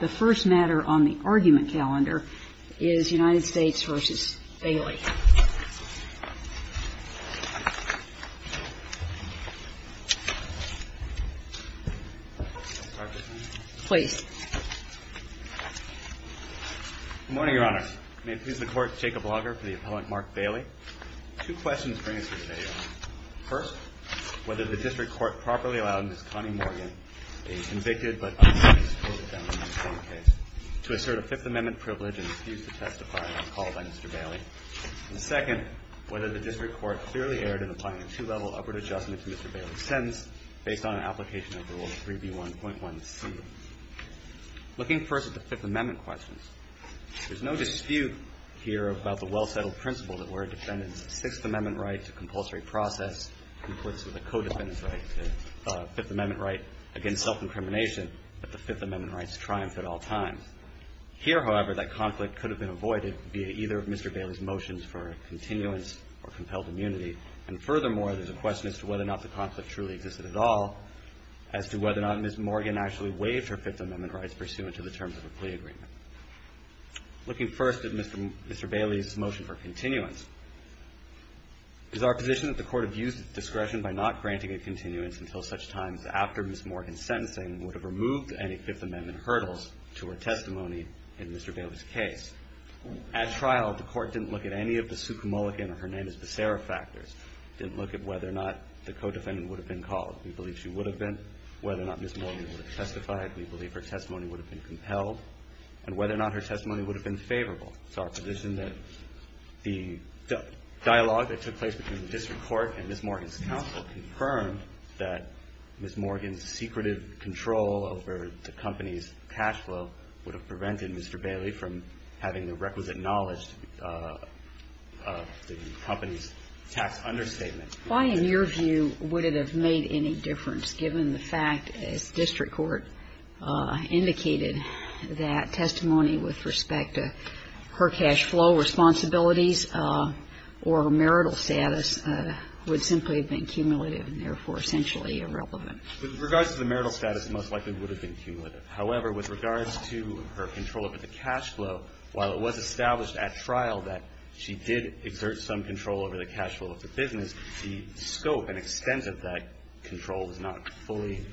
The first matter on the argument calendar is United States v. Bailey. Please. Good morning, Your Honor. May it please the Court, Jacob Lager for the appellant Mark Bailey. First, whether the district court properly allowed Ms. Connie Morgan, a convicted but undisclosed defendant in the same case, to assert a Fifth Amendment privilege and refuse to testify on call by Mr. Bailey. And second, whether the district court clearly erred in applying a two-level upward adjustment to Mr. Bailey's sentence based on an application of Rule 3B1.1c. Looking first at the Fifth Amendment questions, there's no dispute here about the well-settled principle that where a defendant's Sixth Amendment right to compulsory process comports with a co-defendant's right to a Fifth Amendment right against self-incrimination, that the Fifth Amendment rights triumph at all times. Here, however, that conflict could have been avoided via either of Mr. Bailey's motions for continuance or compelled immunity. And furthermore, there's a question as to whether or not the conflict truly existed at all as to whether or not Ms. Morgan actually waived her Fifth Amendment rights pursuant to the terms of a plea agreement. Looking first at Mr. Bailey's motion for continuance, is our position that the Court abused its discretion by not granting a continuance until such times after Ms. Morgan's sentencing would have removed any Fifth Amendment hurdles to her testimony in Mr. Bailey's case? At trial, the Court didn't look at any of the Sukumulican or her name is Becerra factors. It didn't look at whether or not the co-defendant would have been called. We believe she would have been, whether or not Ms. Morgan would have testified. We believe her testimony would have been compelled, and whether or not her testimony would have been favorable. It's our position that the dialogue that took place between the district court and Ms. Morgan's counsel confirmed that Ms. Morgan's secretive control over the company's cash flow would have prevented Mr. Bailey from having the requisite knowledge of the company's tax understatement. Why, in your view, would it have made any difference, given the fact, as district court indicated, that testimony with respect to her cash flow responsibilities or marital status would simply have been cumulative and therefore essentially irrelevant? With regards to the marital status, it most likely would have been cumulative. However, with regards to her control over the cash flow, while it was established at trial that she did exert some control over the cash flow of the business, the scope and extent of that control is not fully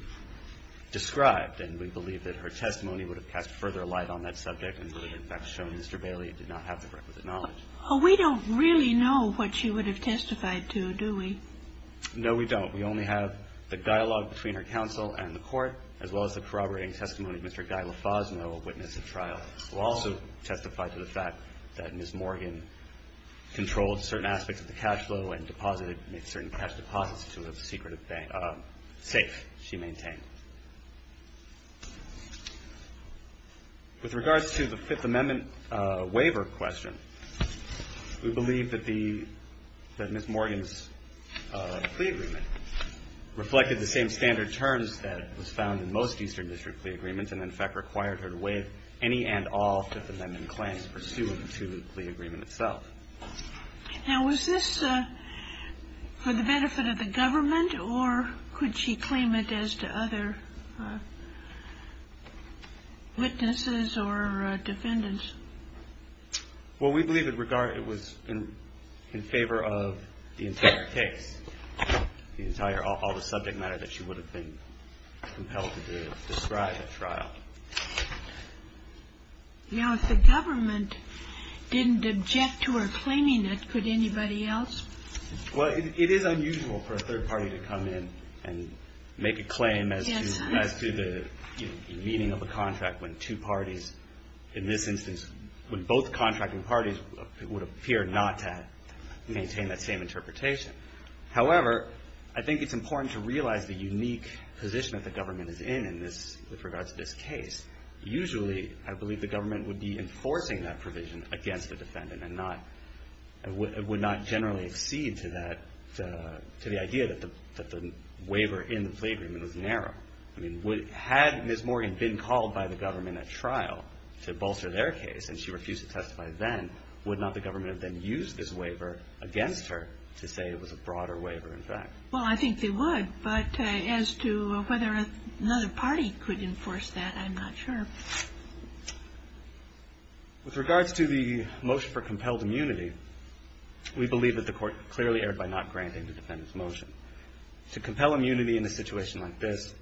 described. And we believe that her testimony would have cast further light on that subject and would have, in fact, shown Mr. Bailey did not have the requisite knowledge. Oh, we don't really know what she would have testified to, do we? No, we don't. We only have the dialogue between her counsel and the court, as well as the corroborating testimony of Mr. Guy Lafazno, a witness at trial, who also testified to the fact that Ms. Morgan controlled certain aspects of the cash flow and deposited certain cash deposits to a secretive safe she maintained. With regards to the Fifth Amendment waiver question, we believe that Ms. Morgan's plea agreement reflected the same standard terms that was found in most Eastern District plea agreements and, in fact, required her to waive any and all Fifth Amendment claims pursuant to the plea agreement itself. Now, was this for the benefit of the government, or could she claim it as to other witnesses or defendants? Well, we believe it was in favor of the entire case, all the subject matter that she would have been compelled to describe at trial. Now, if the government didn't object to her claiming it, could anybody else? Well, it is unusual for a third party to come in and make a claim as to the meaning of a contract when two parties, in this instance, when both contracting parties, would appear not to maintain that same interpretation. However, I think it's important to realize the unique position that the government is in with regards to this case. Usually, I believe the government would be enforcing that provision against the defendant and would not generally accede to the idea that the waiver in the plea agreement was narrow. I mean, had Ms. Morgan been called by the government at trial to bolster their case and she refused to testify then, would not the government have then used this waiver against her to say it was a broader waiver, in fact? Well, I think they would. But as to whether another party could enforce that, I'm not sure. With regards to the motion for compelled immunity, we believe that the Court clearly erred by not granting the defendant's motion. To compel immunity in a situation like this,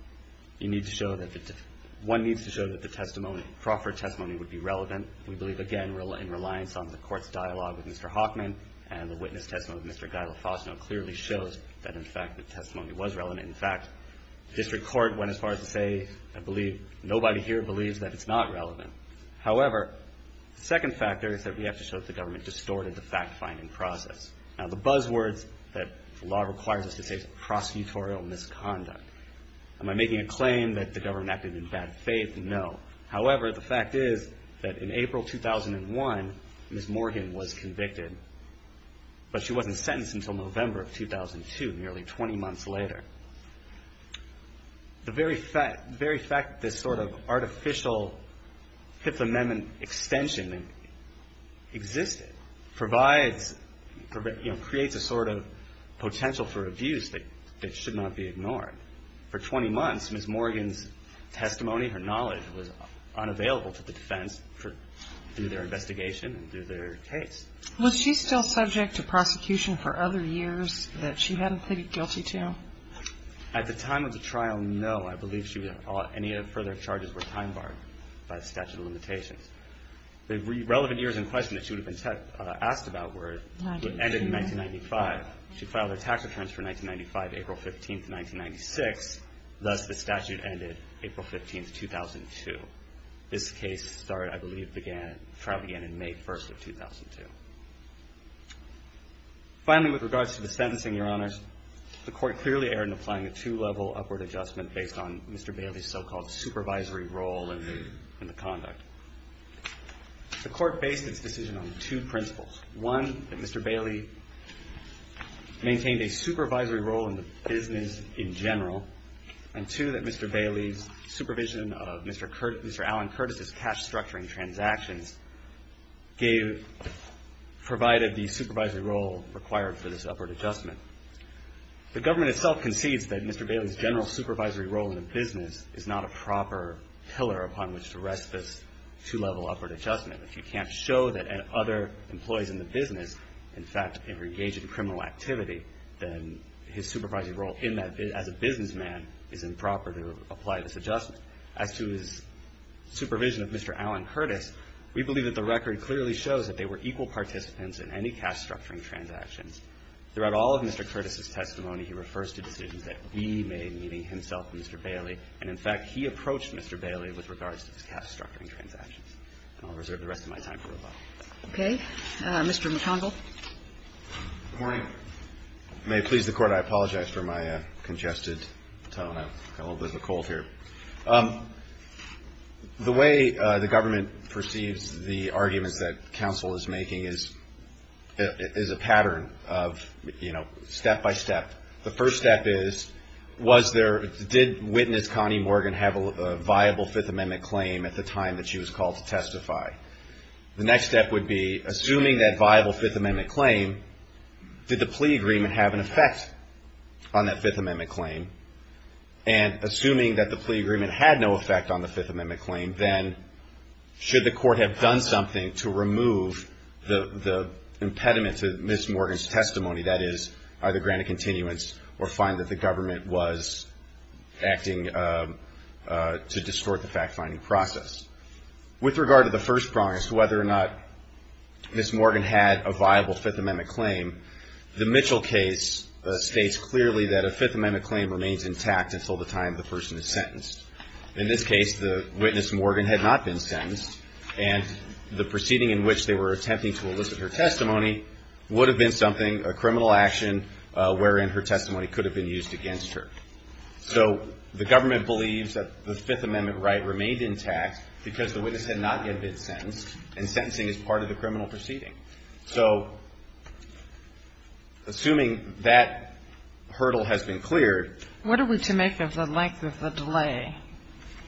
one needs to show that the proffered testimony would be relevant. We believe, again, in reliance on the Court's dialogue with Mr. Hoffman and the witness testimony of Mr. Guy LaFosno clearly shows that, in fact, the testimony was relevant. In fact, district court went as far as to say, I believe, nobody here believes that it's not relevant. However, the second factor is that we have to show that the government distorted the fact-finding process. Now, the buzzwords that the law requires us to say is prosecutorial misconduct. Am I making a claim that the government acted in bad faith? No. However, the fact is that in April 2001, Ms. Morgan was convicted, but she wasn't sentenced until November of 2002, nearly 20 months later. The very fact that this sort of artificial Fifth Amendment extension existed provides, you know, creates a sort of potential for abuse that should not be ignored. For 20 months, Ms. Morgan's testimony, her knowledge was unavailable to the defense through their investigation and through their case. Was she still subject to prosecution for other years that she hadn't pleaded guilty to? At the time of the trial, no. I believe any further charges were time-barred by the statute of limitations. The relevant years in question that she would have been asked about ended in 1995. She filed her tax returns for 1995, April 15, 1996. Thus, the statute ended April 15, 2002. This case started, I believe, the trial began in May 1, 2002. Finally, with regards to the sentencing, Your Honors, the court clearly erred in applying a two-level upward adjustment based on Mr. Bailey's so-called supervisory role in the conduct. The court based its decision on two principles. One, that Mr. Bailey maintained a supervisory role in the business in general, and two, that Mr. Bailey's supervision of Mr. Alan Curtis's cash-structuring transactions provided the supervisory role required for this upward adjustment. The government itself concedes that Mr. Bailey's general supervisory role in the business is not a proper pillar upon which to rest this two-level upward adjustment. If you can't show that other employees in the business, in fact, are engaged in criminal activity, then his supervisory role as a businessman is improper to apply this adjustment. As to his supervision of Mr. Alan Curtis, we believe that the record clearly shows that they were equal participants in any cash-structuring transactions. Throughout all of Mr. Curtis's testimony, he refers to decisions that we made, meaning himself and Mr. Bailey, and, in fact, he approached Mr. Bailey with regards to his cash-structuring transactions. I'll reserve the rest of my time for rebuttal. Okay. Mr. McConville. Good morning. May it please the Court, I apologize for my congested tone. I've got a little bit of a cold here. The way the government perceives the arguments that counsel is making is a pattern of, you know, step by step. The first step is, was there – did witness Connie Morgan have a viable Fifth Amendment claim at the time that she was called to testify? The next step would be, assuming that viable Fifth Amendment claim, did the plea agreement have an effect on that Fifth Amendment claim? And assuming that the plea agreement had no effect on the Fifth Amendment claim, then should the Court have done something to remove the impediment to Ms. Morgan's testimony, that is, either grant a continuance or find that the government was acting to distort the fact-finding process? With regard to the first promise, whether or not Ms. Morgan had a viable Fifth Amendment claim, the Mitchell case states clearly that a Fifth Amendment claim remains intact until the time the person is sentenced. In this case, the witness Morgan had not been sentenced, and the proceeding in which they were attempting to elicit her testimony would have been something – a criminal action wherein her testimony could have been used against her. So the government believes that the Fifth Amendment right remained intact because the witness had not yet been sentenced, and sentencing is part of the criminal proceeding. So assuming that hurdle has been cleared – What are we to make of the length of the delay?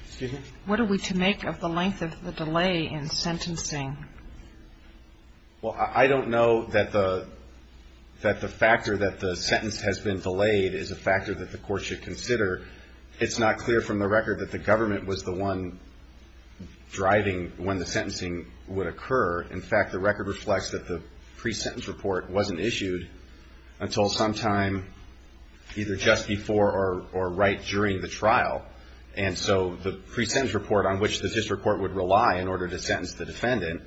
Excuse me? What are we to make of the length of the delay in sentencing? Well, I don't know that the factor that the sentence has been delayed is a factor that the Court should consider. It's not clear from the record that the government was the one driving when the sentencing would occur. In fact, the record reflects that the pre-sentence report wasn't issued until sometime either just before or right during the trial. And so the pre-sentence report on which the district court would rely in order to sentence the defendant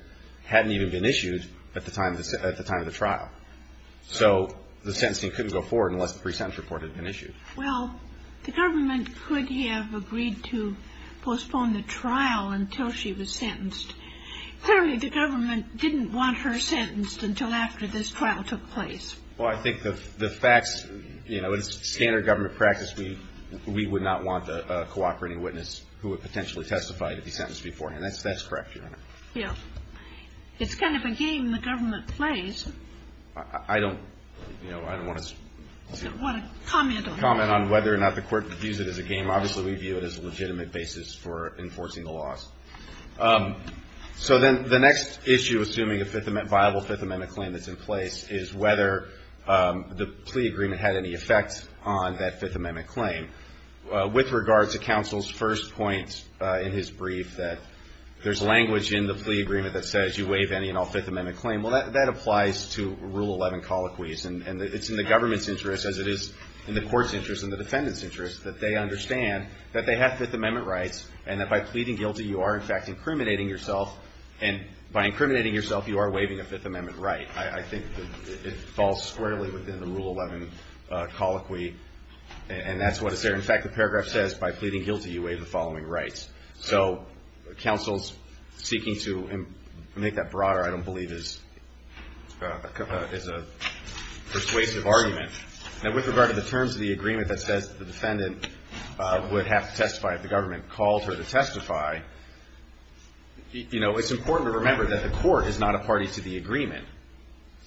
hadn't even been issued at the time of the trial. So the sentencing couldn't go forward unless the pre-sentence report had been issued. Well, the government could have agreed to postpone the trial until she was sentenced. Clearly, the government didn't want her sentenced until after this trial took place. Well, I think the facts, you know, it's standard government practice. We would not want a cooperating witness who would potentially testify to be sentenced beforehand. That's correct, Your Honor. Yeah. It's kind of a game the government plays. I don't, you know, I don't want to comment on whether or not the Court views it as a game. Obviously, we view it as a legitimate basis for enforcing the laws. So then the next issue, assuming a viable Fifth Amendment claim that's in place, is whether the plea agreement had any effect on that Fifth Amendment claim. With regard to counsel's first point in his brief that there's language in the plea agreement that says you waive any and all Fifth Amendment claim, well, that applies to Rule 11 colloquies. And it's in the government's interest, as it is in the Court's interest and the defendant's interest, that they understand that they have Fifth Amendment rights and that by pleading guilty, you are, in fact, incriminating yourself. And by incriminating yourself, you are waiving a Fifth Amendment right. I think it falls squarely within the Rule 11 colloquy, and that's what it says. In fact, the paragraph says, by pleading guilty, you waive the following rights. So counsel's seeking to make that broader, I don't believe, is a persuasive argument. Now, with regard to the terms of the agreement that says the defendant would have to testify if the government calls her to testify, you know, it's important to remember that the Court is not a party to the agreement.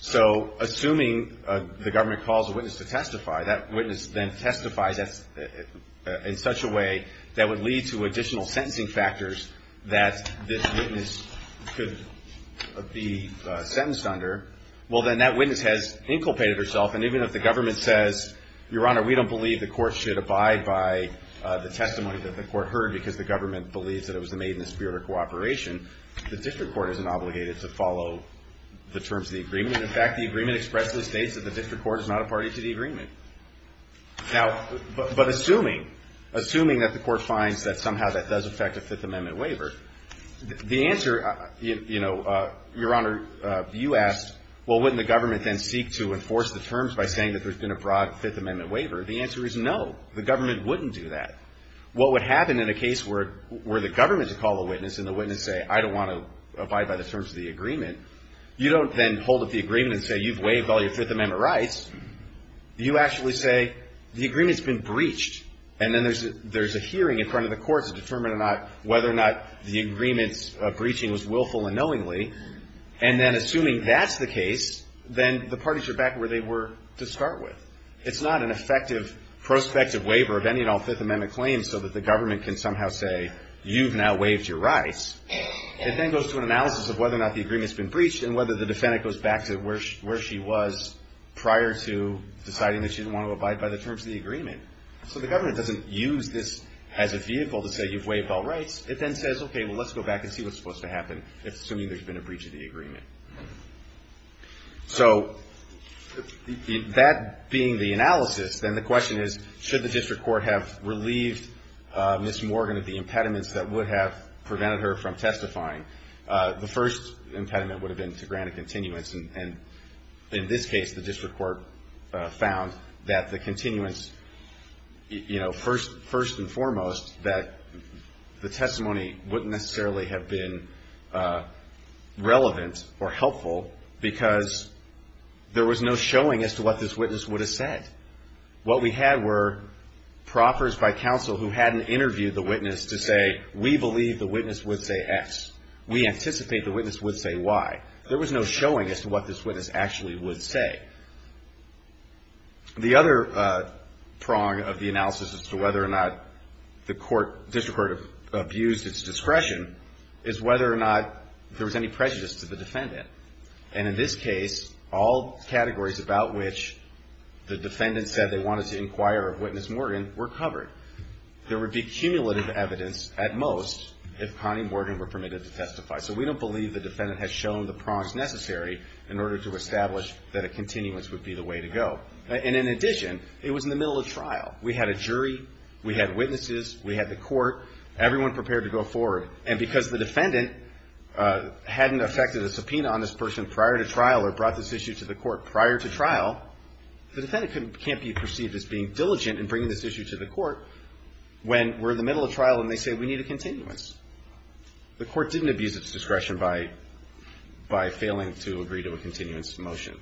So assuming the government calls a witness to testify, that witness then testifies in such a way that would lead to additional sentencing factors that this witness could be sentenced under. Well, then that witness has inculpated herself. And even if the government says, Your Honor, we don't believe the Court should abide by the testimony that the Court heard because the government believes that it was made in the spirit of cooperation, the district court isn't obligated to follow the terms of the agreement. In fact, the agreement expressly states that the district court is not a party to the agreement. Now, but assuming, assuming that the Court finds that somehow that does affect a Fifth Amendment waiver, the answer, you know, is yes. Well, wouldn't the government then seek to enforce the terms by saying that there's been a broad Fifth Amendment waiver? The answer is no. The government wouldn't do that. What would happen in a case where the government would call the witness and the witness say, I don't want to abide by the terms of the agreement, you don't then hold up the agreement and say, You've waived all your Fifth Amendment rights. You actually say, The agreement's been breached. And then there's a hearing in front of the Court to determine whether or not the agreement's breaching was willful and knowingly. And then assuming that's the case, then the parties are back where they were to start with. It's not an effective prospective waiver of any and all Fifth Amendment claims so that the government can somehow say, You've now waived your rights. It then goes to an analysis of whether or not the agreement's been breached and whether the defendant goes back to where she was prior to deciding that she didn't want to abide by the terms of the agreement. So the government doesn't use this as a vehicle to say, You've waived all rights. It then says, Okay, well, let's go back and see what's supposed to happen, assuming there's been a breach of the agreement. So that being the analysis, then the question is, should the district court have relieved Ms. Morgan of the impediments that would have prevented her from testifying? The first impediment would have been to grant a continuance. And in this case, the district court found that the continuance, you know, first and foremost, that the testimony wouldn't necessarily have been relevant or helpful because there was no showing as to what this witness would have said. What we had were proffers by counsel who hadn't interviewed the witness to say, We believe the witness would say X. We anticipate the witness would say Y. There was no showing as to what this witness actually would say. The other prong of the analysis as to whether or not the district court abused its discretion is whether or not there was any prejudice to the defendant. And in this case, all categories about which the defendant said they wanted to inquire of Witness Morgan were covered. There would be cumulative evidence, at most, if Connie Morgan were permitted to testify. So we don't believe the defendant has shown the prongs necessary in order to establish that a continuance would be the way to go. And in addition, it was in the middle of trial. We had a jury. We had witnesses. We had the court. Everyone prepared to go forward. And because the defendant hadn't effected a subpoena on this person prior to trial or brought this issue to the court prior to trial, the defendant can't be perceived as being diligent in bringing this issue to the court when we're in the middle of trial and they say, We need a continuance. The court didn't abuse its discretion by failing to agree to a continuance motion.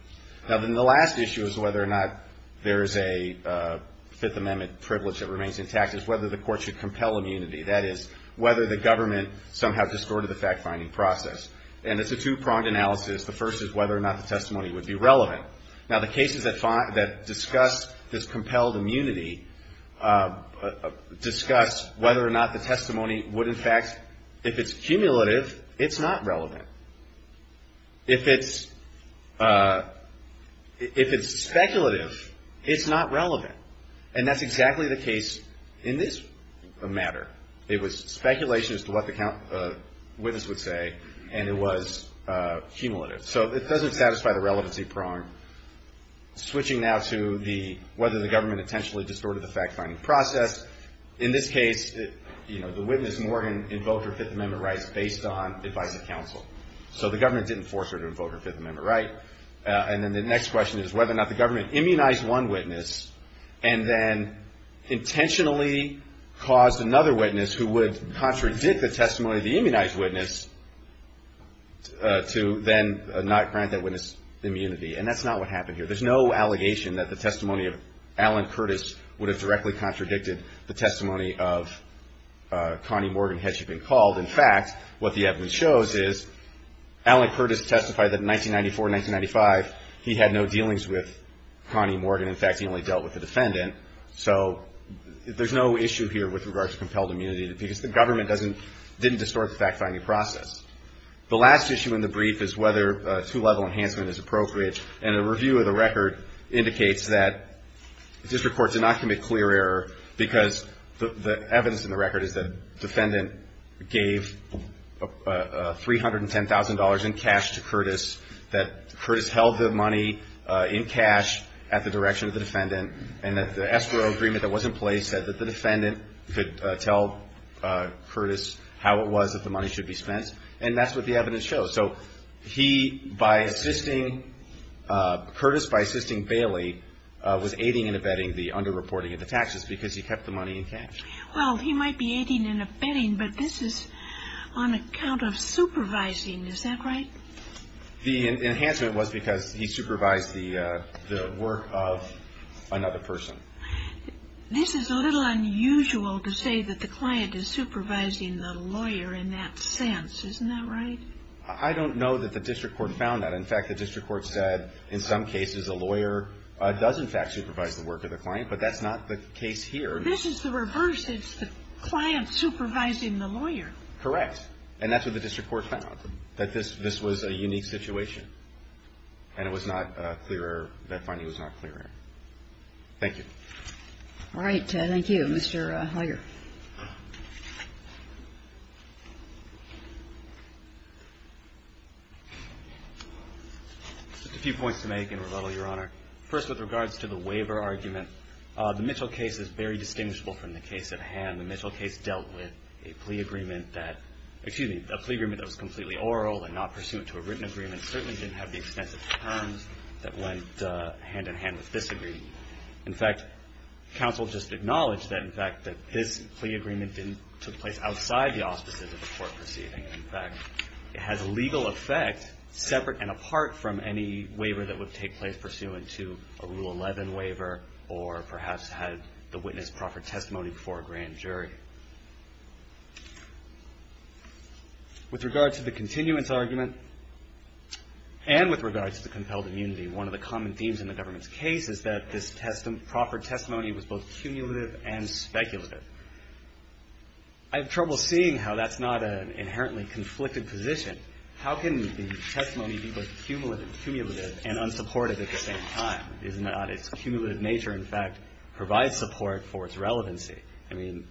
Now, then the last issue is whether or not there is a Fifth Amendment privilege that remains intact is whether the court should compel immunity. That is, whether the government somehow distorted the fact-finding process. And it's a two-pronged analysis. The first is whether or not the testimony would be relevant. Now, the cases that discuss this compelled immunity discuss whether or not the testimony would, in fact, if it's cumulative, it's not relevant. If it's speculative, it's not relevant. And that's exactly the case in this matter. It was speculation as to what the witness would say, and it was cumulative. So it doesn't satisfy the relevancy prong. Switching now to whether the government intentionally distorted the fact-finding process. In this case, the witness, Morgan, invoked her Fifth Amendment rights based on advice of counsel. So the government didn't force her to invoke her Fifth Amendment right. And then the next question is whether or not the government immunized one witness and then intentionally caused another witness who would contradict the testimony of the immunized witness to then not grant that witness immunity. And that's not what happened here. There's no allegation that the testimony of Alan Curtis would have directly contradicted the testimony of Connie Morgan, had she been called. In fact, what the evidence shows is Alan Curtis testified that in 1994, 1995, he had no dealings with Connie Morgan. In fact, he only dealt with the defendant. So there's no issue here with regards to compelled immunity because the government didn't distort the fact-finding process. The last issue in the brief is whether two-level enhancement is appropriate. And a review of the record indicates that district courts did not commit clear error because the evidence in the record is that the defendant gave $310,000 in cash to Curtis, that Curtis held the money in cash at the direction of the defendant, and that the defendant said that the SRO agreement that was in place said that the defendant could tell Curtis how it was that the money should be spent. And that's what the evidence shows. So he, by assisting Curtis, by assisting Bailey, was aiding and abetting the underreporting of the taxes because he kept the money in cash. Well, he might be aiding and abetting, but this is on account of supervising. Is that right? The enhancement was because he supervised the work of another person. This is a little unusual to say that the client is supervising the lawyer in that sense. Isn't that right? I don't know that the district court found that. In fact, the district court said in some cases a lawyer does, in fact, supervise the work of the client, but that's not the case here. This is the reverse. It's the client supervising the lawyer. Correct. And that's what the district court found, that this was a unique situation, and it was not clear error. That finding was not clear error. Thank you. All right. Thank you. Mr. Hager. Just a few points to make and rebuttal, Your Honor. First, with regards to the waiver argument, the Mitchell case is very distinguishable from the case at hand. The Mitchell case dealt with a plea agreement that – excuse me, a plea agreement that was completely oral and not pursuant to a written agreement. It certainly didn't have the extensive terms that went hand-in-hand with this agreement. In fact, counsel just acknowledged that, in fact, that this plea agreement didn't – took place outside the auspices of the court proceeding. In fact, it has a legal effect separate and apart from any waiver that would take place pursuant to a Rule 11 waiver or perhaps had the witness proffer testimony before a grand jury. With regards to the continuance argument and with regards to the compelled immunity, one of the common themes in the government's case is that this proffered testimony was both cumulative and speculative. I have trouble seeing how that's not an inherently conflicted position. How can the testimony be both cumulative and unsupportive at the same time? Isn't that – its cumulative nature, in fact, provides support for its relevancy. I mean,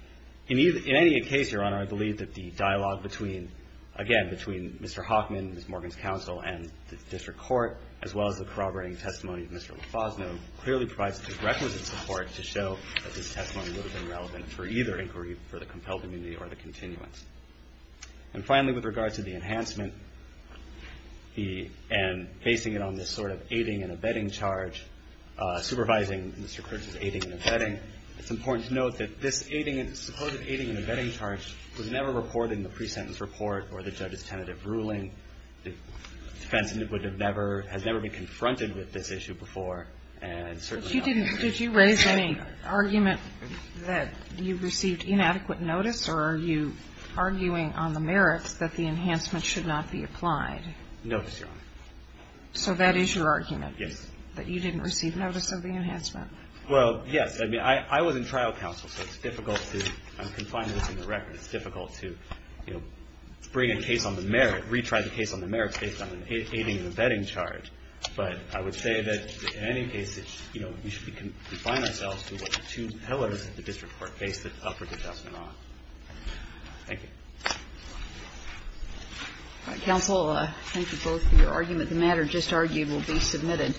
in any case, Your Honor, I believe that the dialogue between – again, between Mr. Hoffman, Ms. Morgan's counsel, and the district court, as well as the corroborating testimony of Mr. Lofosno, clearly provides the requisite support to show that this testimony would have been relevant for either inquiry for the compelled immunity or the continuance. And finally, with regards to the enhancement and basing it on this sort of aiding and abetting charge, supervising Mr. Critch's aiding and abetting, it's important to note that this supposed aiding and abetting charge was never reported in the pre-sentence report or the judge's tentative ruling. The defense would have never – has never been confronted with this issue before, and certainly not today. But you didn't – did you raise any argument that you received inadequate notice, or are you arguing on the merits that the enhancement should not be applied? No, Ms. Young. So that is your argument? That you didn't receive notice of the enhancement? Well, yes. I mean, I was in trial counsel, so it's difficult to – I'm confining this in the record. It's difficult to, you know, bring a case on the merit, retry the case on the merits, based on an aiding and abetting charge. But I would say that in any case, you know, we should confine ourselves to what the two pillars of the district court case that offered the judgment are. Thank you. All right. Counsel, thank you both for your argument. The matter just argued will be submitted.